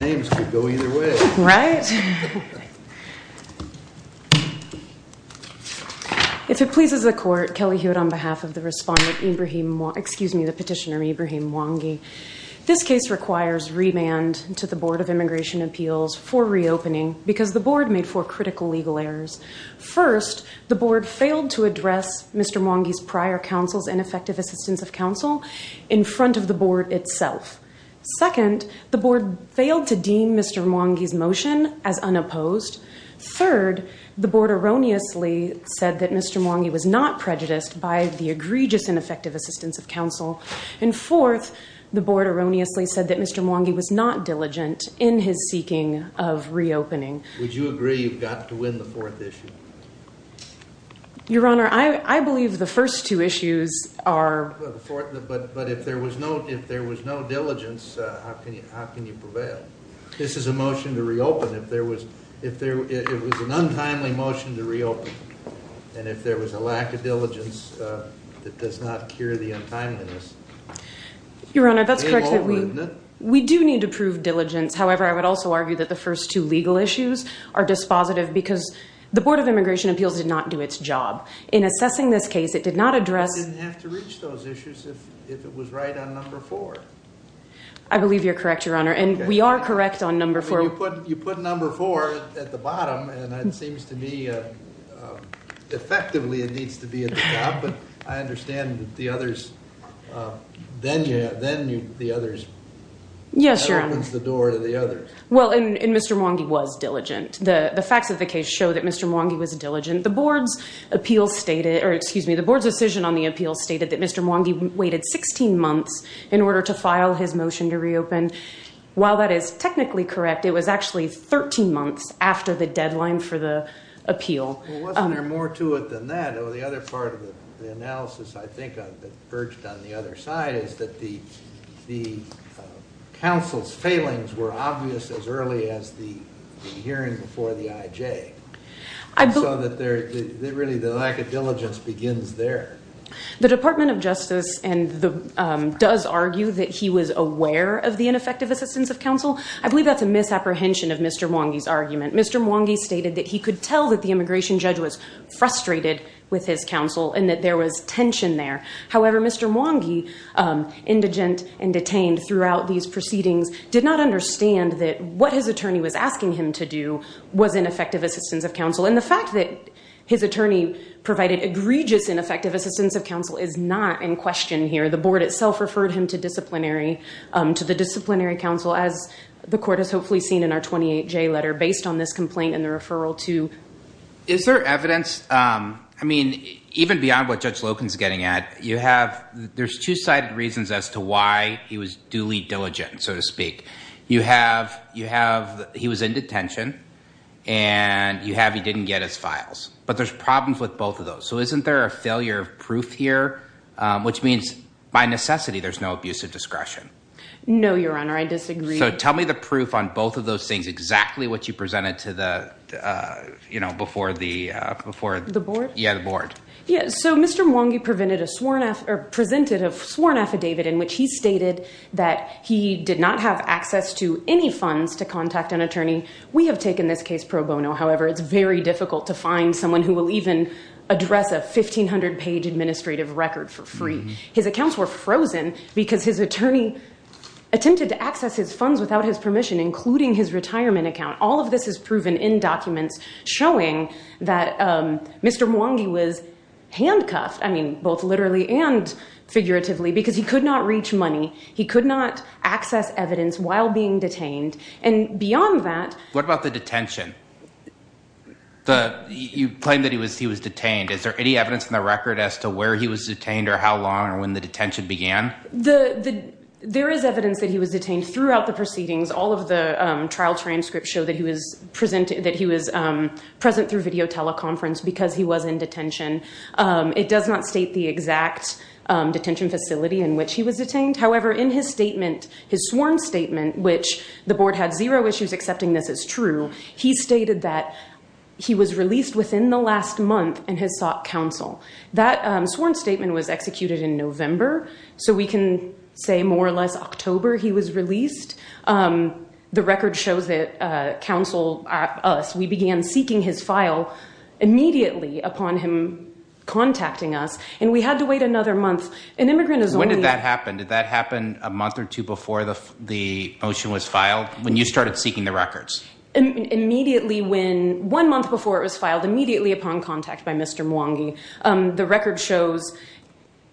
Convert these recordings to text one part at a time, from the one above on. If it pleases the court, Kelly Hewitt on behalf of the petitioner Ibrahim Mwangi, this case requires remand to the Board of Immigration Appeals for reopening because the board made four critical legal errors. First, the board failed to address Mr. Mwangi's prior counsel's ineffective assistance of counsel in front of the board itself. Second, the board failed to deem Mr. Mwangi's motion as unopposed. Third, the board erroneously said that Mr. Mwangi was not prejudiced by the egregious ineffective assistance of counsel. And fourth, the board erroneously said that Mr. Mwangi was not diligent in his seeking of reopening. Would you agree you've got to win the fourth issue? Your Honor, I believe the first two issues are... But if there was no diligence, how can you prevail? This is a motion to reopen. It was an untimely motion to reopen. And if there was a lack of diligence, that does not cure the untimeliness. Your Honor, that's correct. We do need to prove diligence. However, I would also argue that the first two legal issues are dispositive because the Board of Immigration Appeals did not do its job. In assessing this case, it did not address... It didn't have to reach those issues if it was right on number four. I believe you're correct, Your Honor. And we are correct on number four. You put number four at the bottom, and it seems to me effectively it needs to be at the top. But I understand that the others... Then the others... Yes, Your Honor. That opens the door to the others. Well, and Mr. Mwangi was diligent. The facts of the case show that Mr. Mwangi was diligent. The Board's appeal stated... Excuse me. The Board's decision on the appeal stated that Mr. Mwangi waited 16 months in order to file his motion to reopen. While that is technically correct, it was actually 13 months after the deadline for the appeal. Well, wasn't there more to it than that? The other part of the analysis, I think, that perched on the other side is that the hearing before the IJ. So that really the lack of diligence begins there. The Department of Justice does argue that he was aware of the ineffective assistance of counsel. I believe that's a misapprehension of Mr. Mwangi's argument. Mr. Mwangi stated that he could tell that the immigration judge was frustrated with his counsel and that there was tension there. However, Mr. Mwangi, indigent and detained throughout these proceedings, did not understand that what his attorney was asking him to do was ineffective assistance of counsel. The fact that his attorney provided egregious ineffective assistance of counsel is not in question here. The Board itself referred him to disciplinary, to the disciplinary counsel as the court has hopefully seen in our 28J letter based on this complaint and the referral to... Is there evidence? I mean, even beyond what Judge Loken's getting at, you have... He was duly diligent, so to speak. You have, you have, he was in detention and you have, he didn't get his files, but there's problems with both of those. So isn't there a failure of proof here? Which means by necessity, there's no abusive discretion. No, Your Honor. I disagree. So tell me the proof on both of those things, exactly what you presented to the, you know, before the, before... The Board? Yeah, the Board. Yeah, so Mr. Mwangi presented a sworn affidavit in which he stated that he did not have access to any funds to contact an attorney. We have taken this case pro bono. However, it's very difficult to find someone who will even address a 1,500 page administrative record for free. His accounts were frozen because his attorney attempted to access his funds without his permission, including his retirement account. All of this is proven in documents showing that Mr. Mwangi was handcuffed. I mean, both literally and figuratively because he could not reach money. He could not access evidence while being detained. And beyond that... What about the detention? The, you claim that he was, he was detained. Is there any evidence in the record as to where he was detained or how long or when the detention began? The, the, there is evidence that he was detained throughout the proceedings. All of the trial transcripts show that he was present, that he was present through video teleconference because he was in detention. It does not state the exact detention facility in which he was detained. However, in his statement, his sworn statement, which the Board had zero issues accepting this as true, he stated that he was released within the last month and has sought counsel. That sworn statement was executed in November, so we can say more or less October he was released. The record shows that counsel, us, we began seeking his file immediately upon him contacting us and we had to wait another month. An immigrant is only... When did that happen? Did that happen a month or two before the, the motion was filed when you started seeking the records? Immediately when, one month before it was filed, immediately upon contact by Mr. Mwangi. The record shows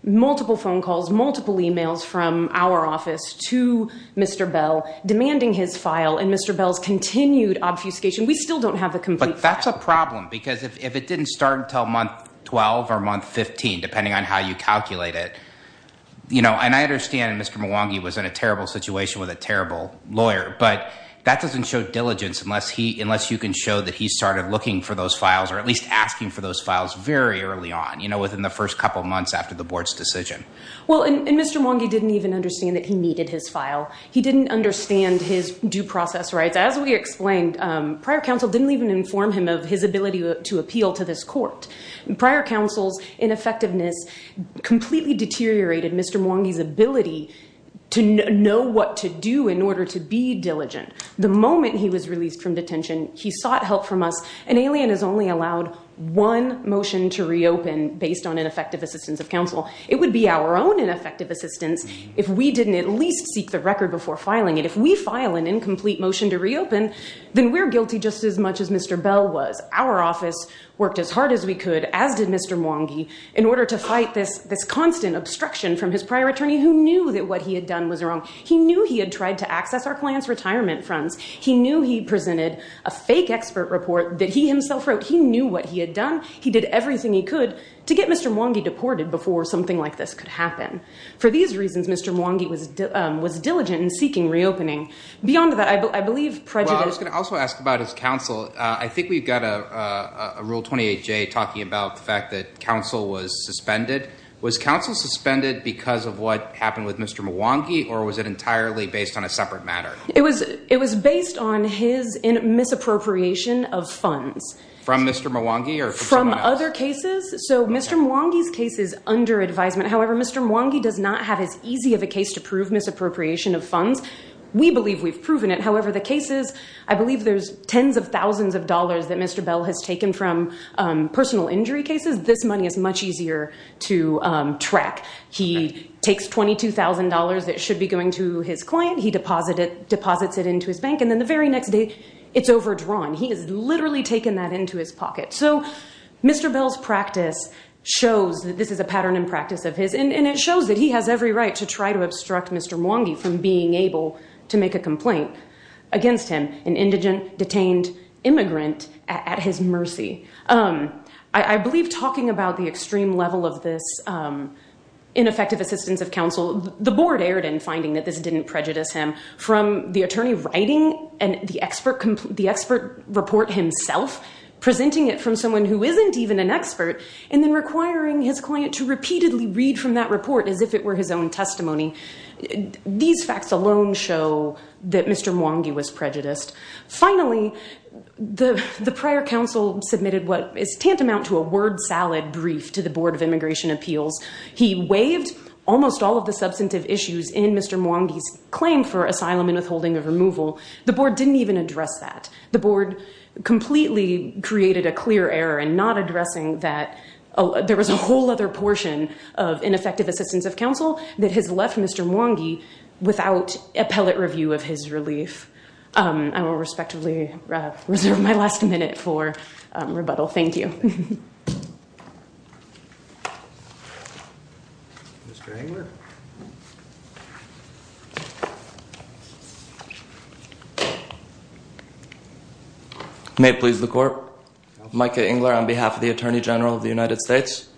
multiple phone calls, multiple emails from our office to Mr. Bell demanding his file and Mr. Bell's continued obfuscation. We still don't have the complete file. But that's a problem because if it didn't start until month 12 or month 15, depending on how you calculate it, you know, and I understand Mr. Mwangi was in a terrible situation with a terrible lawyer, but that doesn't show diligence unless he, unless you can show that he started looking for those files or at least asking for those files very early on, you know, within the first couple of months after the Board's decision. Well, and Mr. Mwangi didn't even understand that he needed his file. He didn't understand his due process rights. As we explained, prior counsel didn't even inform him of his ability to appeal to this court. Prior counsel's ineffectiveness completely deteriorated Mr. Mwangi's ability to know what to do in order to be diligent. The moment he was released from detention, he sought help from us. An alien is only allowed one motion to reopen based on ineffective assistance of counsel. It would be our own ineffective assistance if we didn't at least seek the record before filing it. If we file an incomplete motion to reopen, then we're guilty just as much as Mr. Bell was. Our office worked as hard as we could, as did Mr. Mwangi, in order to fight this constant obstruction from his prior attorney who knew that what he had done was wrong. He knew he had tried to access our client's retirement funds. He knew he presented a fake expert report that he himself wrote. He knew what he had done. He did everything he could to get Mr. Mwangi deported before something like this could happen. For these reasons, Mr. Mwangi was diligent in seeking reopening. Beyond that, I believe prejudice- Well, I was going to also ask about his counsel. I think we've got a Rule 28J talking about the fact that counsel was suspended. Was counsel suspended because of what happened with Mr. Mwangi, or was it entirely based on a separate matter? It was based on his misappropriation of funds. From Mr. Mwangi, or from someone else? From other cases. Mr. Mwangi's case is under advisement. However, Mr. Mwangi does not have as easy of a case to prove misappropriation of funds. We believe we've proven it. However, the cases, I believe there's tens of thousands of dollars that Mr. Bell has taken from personal injury cases. This money is much easier to track. He takes $22,000 that should be going to his client. He deposits it into his bank, and then the very next day, it's overdrawn. He has literally taken that into his pocket. So, Mr. Bell's practice shows that this is a pattern in practice of his, and it shows that he has every right to try to obstruct Mr. Mwangi from being able to make a complaint against him, an indigent, detained immigrant, at his mercy. I believe talking about the extreme level of this ineffective assistance of counsel, the board erred in finding that this didn't prejudice him. From the attorney writing the expert report himself, presenting it from someone who isn't even an expert, and then requiring his client to repeatedly read from that report as if it were his own testimony. These facts alone show that Mr. Mwangi was prejudiced. Finally, the prior counsel submitted what is tantamount to a word salad brief to the Board of Immigration Appeals. He waived almost all of the substantive issues in Mr. Mwangi's claim for asylum and withholding of removal. The board didn't even address that. The board completely created a clear error in not addressing that. There was a whole other portion of ineffective assistance of counsel that has left Mr. Mwangi without appellate review of his relief. I will respectively reserve my last minute for rebuttal. Thank you. Mr. Engler. May it please the court. Micah Engler on behalf of the Attorney General of the United States.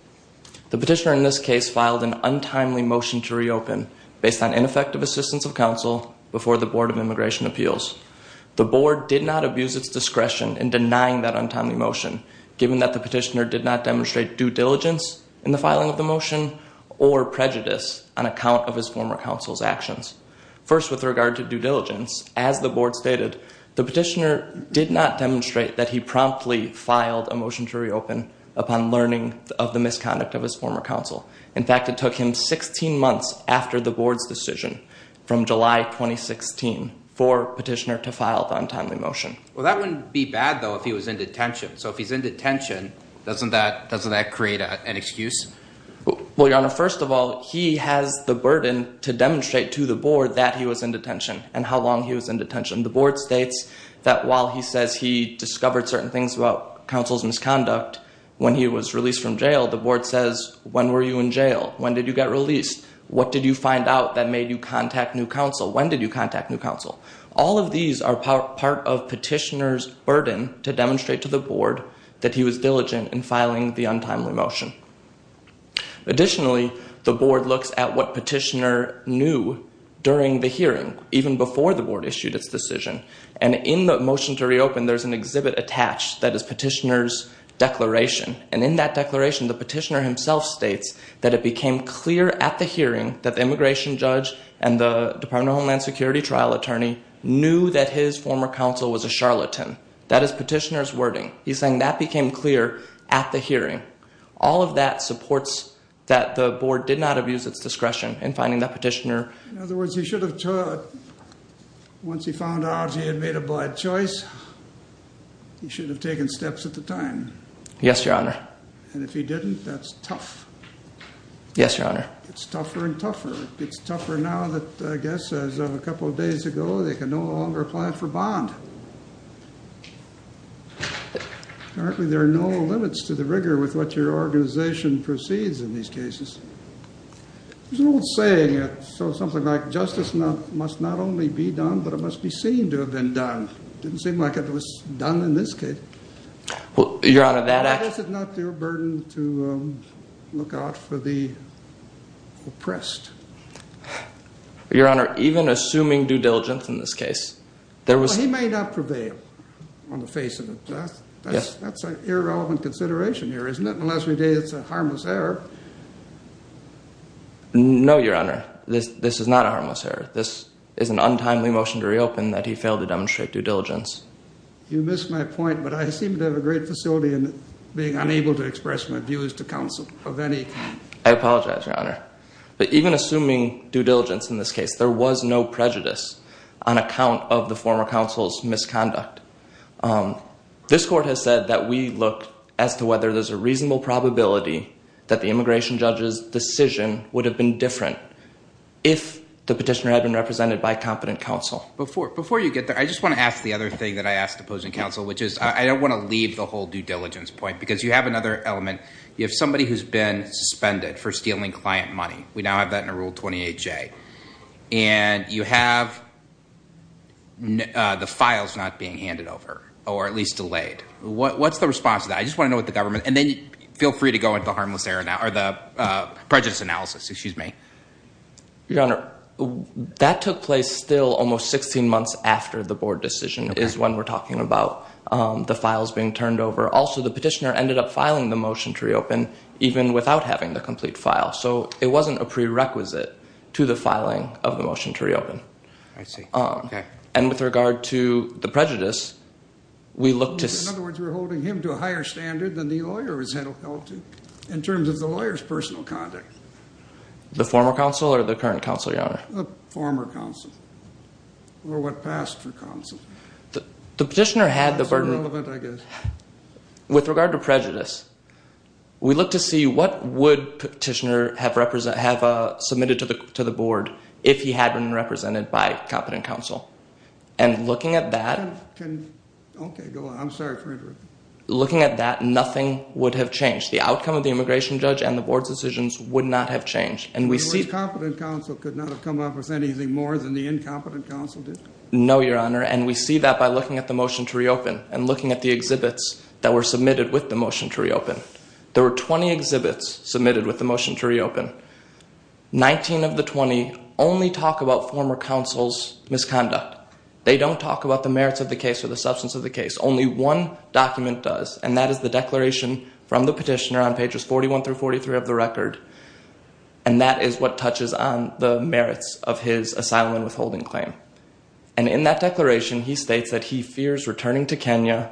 The petitioner in this case filed an untimely motion to reopen based on ineffective assistance of counsel before the Board of Immigration Appeals. The board did not abuse its discretion in denying that untimely motion given that the prejudice on account of his former counsel's actions. First, with regard to due diligence, as the board stated, the petitioner did not demonstrate that he promptly filed a motion to reopen upon learning of the misconduct of his former counsel. In fact, it took him 16 months after the board's decision from July 2016 for petitioner to file the untimely motion. Well, that wouldn't be bad, though, if he was in detention. So if he's in detention, doesn't that create an excuse? Well, Your Honor, first of all, he has the burden to demonstrate to the board that he was in detention and how long he was in detention. The board states that while he says he discovered certain things about counsel's misconduct when he was released from jail, the board says, when were you in jail? When did you get released? What did you find out that made you contact new counsel? When did you contact new counsel? All of these are part of petitioner's burden to demonstrate to the board that he was diligent in filing the untimely motion. Additionally, the board looks at what petitioner knew during the hearing, even before the board issued its decision. And in the motion to reopen, there's an exhibit attached that is petitioner's declaration. And in that declaration, the petitioner himself states that it became clear at the hearing that the immigration judge and the Department of Homeland Security trial attorney knew that That is petitioner's wording. He's saying that became clear at the hearing. All of that supports that the board did not abuse its discretion in finding that petitioner. In other words, he should have, once he found out he had made a bad choice, he should have taken steps at the time. Yes, Your Honor. And if he didn't, that's tough. Yes, Your Honor. It's tougher and tougher. It's tougher now that, I guess, as of a couple of days ago, they can no longer apply for bond. Apparently, there are no limits to the rigor with what your organization proceeds in these cases. There's an old saying, something like, justice must not only be done, but it must be seen to have been done. Didn't seem like it was done in this case. Your Honor, that actually Why is it not your burden to look out for the oppressed? Your Honor, even assuming due diligence in this case, there was Well, he may not prevail on the face of it. That's an irrelevant consideration here, isn't it? Unless we say it's a harmless error. No, Your Honor. This is not a harmless error. This is an untimely motion to reopen that he failed to demonstrate due diligence. You missed my point, but I seem to have a great facility in being unable to express my views to counsel of any I apologize, Your Honor. But even assuming due diligence in this case, there was no prejudice on account of the former counsel's misconduct. This court has said that we look as to whether there's a reasonable probability that the immigration judge's decision would have been different if the petitioner had been represented by competent counsel. Before you get there, I just want to ask the other thing that I asked opposing counsel, which is I don't want to leave the whole due diligence point, because you have another element. You have somebody who's been suspended for stealing client money. We now have that in a Rule 28J. And you have the files not being handed over or at least delayed. What's the response to that? I just want to know what the government and then feel free to go into the harmless error now or the prejudice analysis. Excuse me. Your Honor, that took place still almost 16 months after the board decision is when we're talking about the files being turned over. Also, the petitioner ended up filing the motion to reopen even without having the complete file. So it wasn't a prerequisite to the filing of the motion to reopen. I see. And with regard to the prejudice, we look to see. In other words, we're holding him to a higher standard than the lawyer was held to in terms of the lawyer's personal conduct. The former counsel or the current counsel, Your Honor? The former counsel or what passed for counsel. The petitioner had the burden. That's irrelevant, I guess. With regard to prejudice, we look to see what would petitioner have submitted to the board if he had been represented by competent counsel. And looking at that. Okay, go on. I'm sorry for interrupting. Looking at that, nothing would have changed. The outcome of the immigration judge and the board's decisions would not have changed. And we see. The competent counsel could not have come up with anything more than the incompetent counsel did. No, Your Honor. And we see that by looking at the motion to reopen. And looking at the exhibits that were submitted with the motion to reopen. There were 20 exhibits submitted with the motion to reopen. 19 of the 20 only talk about former counsel's misconduct. They don't talk about the merits of the case or the substance of the case. Only one document does. And that is the declaration from the petitioner on pages 41 through 43 of the record. And that is what touches on the merits of his asylum and withholding claim. And in that declaration, he states that he fears returning to Kenya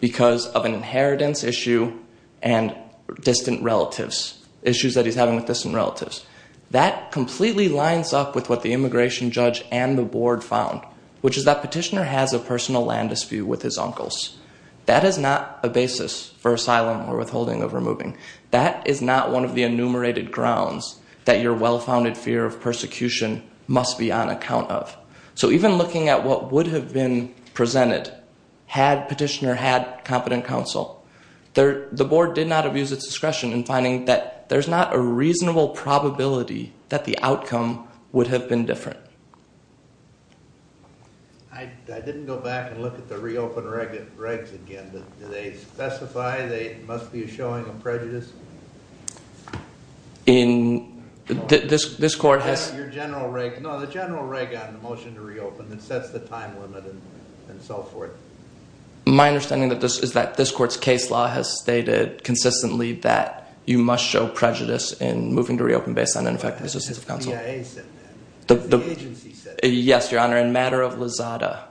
because of an inheritance issue and distant relatives. Issues that he's having with distant relatives. That completely lines up with what the immigration judge and the board found. Which is that petitioner has a personal land dispute with his uncles. That is not a basis for asylum or withholding or removing. That is not one of the enumerated grounds that your well-founded fear of persecution must be on account of. So even looking at what would have been presented had petitioner had competent counsel. The board did not abuse its discretion in finding that there's not a reasonable probability that the outcome would have been different. I didn't go back and look at the reopen regs again. Do they specify there must be a showing of prejudice? No, the general reg on the motion to reopen. It sets the time limit and so forth. My understanding is that this court's case law has stated consistently that you must show prejudice in moving to reopen based on ineffective assistance of counsel. That's what the CIA said. That's what the agency said. Yes, your honor. In matter of Lazada,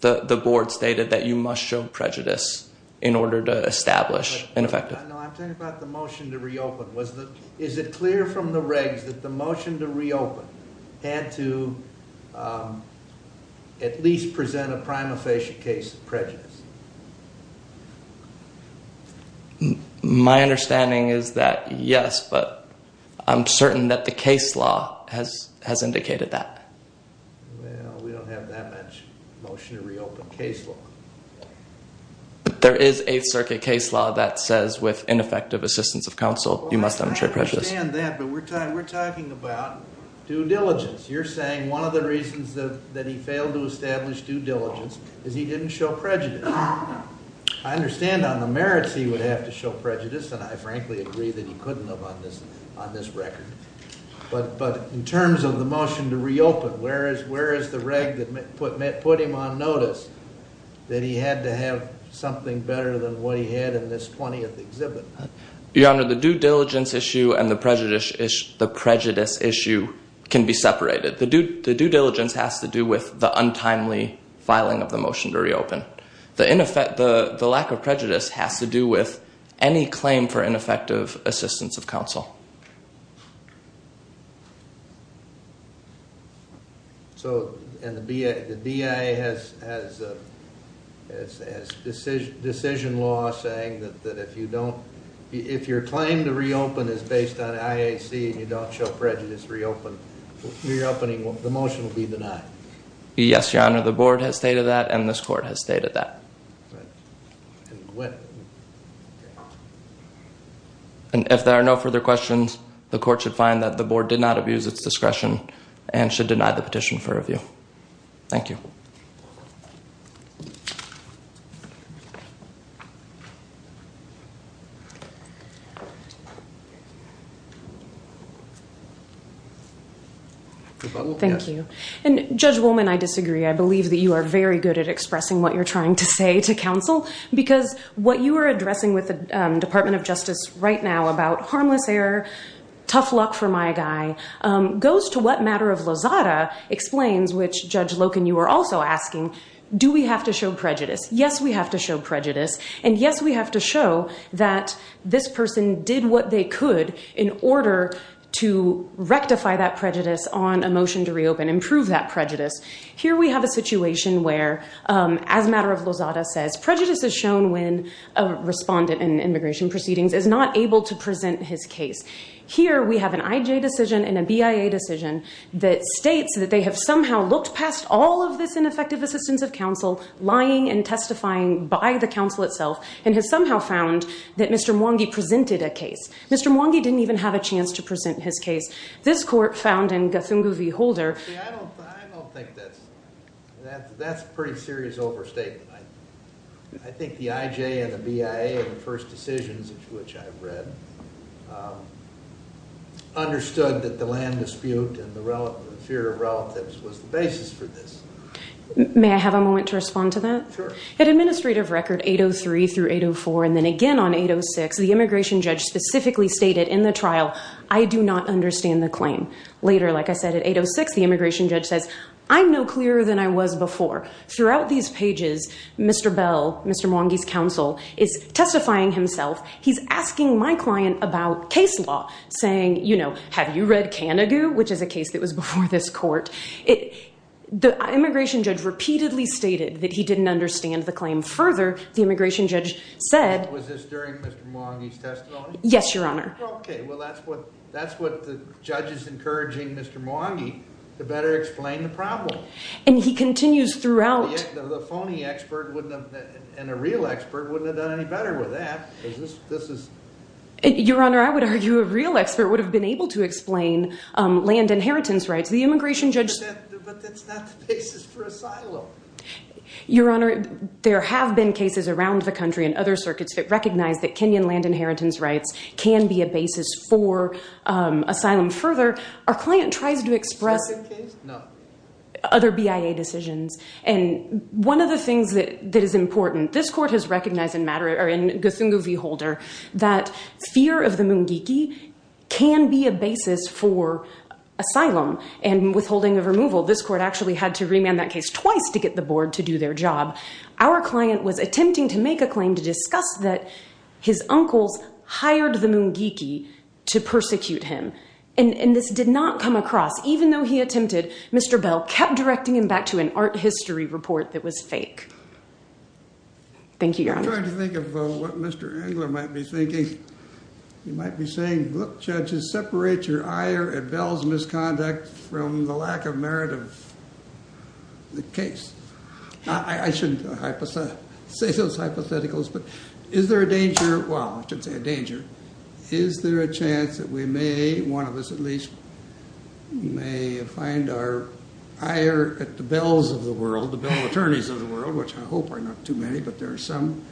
the board stated that you must show prejudice in order to establish ineffective. I'm talking about the motion to reopen. Is it clear from the regs that the motion to reopen had to at least present a prima facie case of prejudice? My understanding is that yes, but I'm certain that the case law has indicated that. Well, we don't have that much motion to reopen case law. There is a circuit case law that says with ineffective assistance of counsel, you must demonstrate prejudice. I understand that, but we're talking about due diligence. You're saying one of the reasons that he failed to establish due diligence is he didn't show prejudice. I understand on the merits he would have to show prejudice, and I frankly agree that he couldn't have on this record. But in terms of the motion to reopen, where is the reg that put him on notice that he had to have something better than what he had in this 20th exhibit? Your honor, the due diligence issue and the prejudice issue can be separated. The due diligence has to do with the untimely filing of the motion to reopen. The lack of prejudice has to do with any claim for ineffective assistance of counsel. And the BIA has decision law saying that if your claim to reopen is based on IAC and you don't show prejudice, the motion will be denied. Yes, your honor. The board has stated that, and this court has stated that. And if there are no further questions, the court should find that the board did not abuse its discretion and should deny the petition for review. Thank you. Thank you. And Judge Wolman, I disagree. I believe that you are very good at expressing what you're trying to say to counsel. Because what you are addressing with the Department of Justice right now about harmless error, tough luck for my guy, goes to what matter of Lozada explains, which Judge Loken, you were also asking, do we have to show prejudice? Yes, we have to show prejudice. And yes, we have to show that this person did what they could in order to rectify that prejudice on a motion to reopen, improve that prejudice. Here we have a situation where, as matter of Lozada says, prejudice is shown when a respondent in immigration proceedings is not able to present his case. Here we have an IJ decision and a BIA decision that states that they have somehow looked past all of this ineffective assistance of counsel, lying and testifying by the counsel itself, and has somehow found that Mr. Mwangi presented a case. Mr. Mwangi didn't even have a chance to present his case. This court found in Gathungu v. Holder. See, I don't think that's a pretty serious overstatement. I think the IJ and the BIA, the first decisions of which I've read, understood that the land dispute and the fear of relatives was the basis for this. May I have a moment to respond to that? Sure. At administrative record 803 through 804, and then again on 806, the immigration judge specifically stated in the trial, I do not understand the claim. Later, like I said, at 806, the immigration judge says, I'm no clearer than I was before. Throughout these pages, Mr. Bell, Mr. Mwangi's counsel, is testifying himself. He's asking my client about case law, saying, you know, have you read Kanagu, which is a case that was before this court. The immigration judge repeatedly stated that he didn't understand the claim. Further, the immigration judge said. Was this during Mr. Mwangi's testimony? Yes, Your Honor. Okay. Well, that's what the judge is encouraging Mr. Mwangi to better explain the problem. And he continues throughout. The phony expert and a real expert wouldn't have done any better with that. Your Honor, I would argue a real expert would have been able to explain land inheritance rights. The immigration judge. But that's not the basis for asylum. Your Honor, there have been cases around the country and other circuits that recognize that Kenyan land inheritance rights can be a basis for asylum. Further, our client tries to express. Other BIA decisions. And one of the things that is important, this court has recognized in Guthungu v. Holder that fear of the Mwangi can be a basis for asylum and withholding of removal. This court actually had to remand that case twice to get the board to do their job. Our client was attempting to make a claim to discuss that his uncles hired the Mwangi to persecute him. And this did not come across. Even though he attempted, Mr. Bell kept directing him back to an art history report that was fake. Thank you, Your Honor. I'm trying to think of what Mr. Engler might be thinking. He might be saying, look, judges, separate your ire at Bell's misconduct from the lack of merit of the case. I shouldn't say those hypotheticals. But is there a danger, well, I shouldn't say a danger. Is there a chance that we may, one of us at least, may find our ire at the Bell's of the world, the Bell attorneys of the world, which I hope are not too many, but there are some.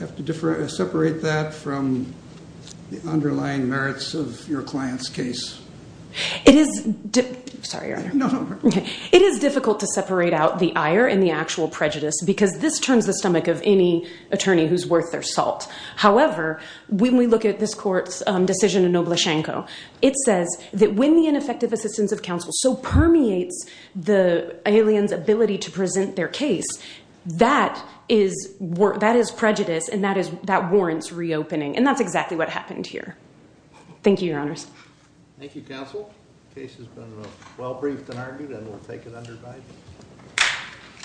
Have to separate that from the underlying merits of your client's case. It is difficult to separate out the ire and the actual prejudice because this turns the stomach of any attorney who's worth their salt. However, when we look at this court's decision in Nobleschenko, it says that when the ineffective assistance of counsel so permeates the alien's ability to present their case, that is prejudice and that warrants reopening. And that's exactly what happened here. Thank you, Your Honors. Thank you, Counsel. The case has been well briefed and argued, and we'll take it under Biden.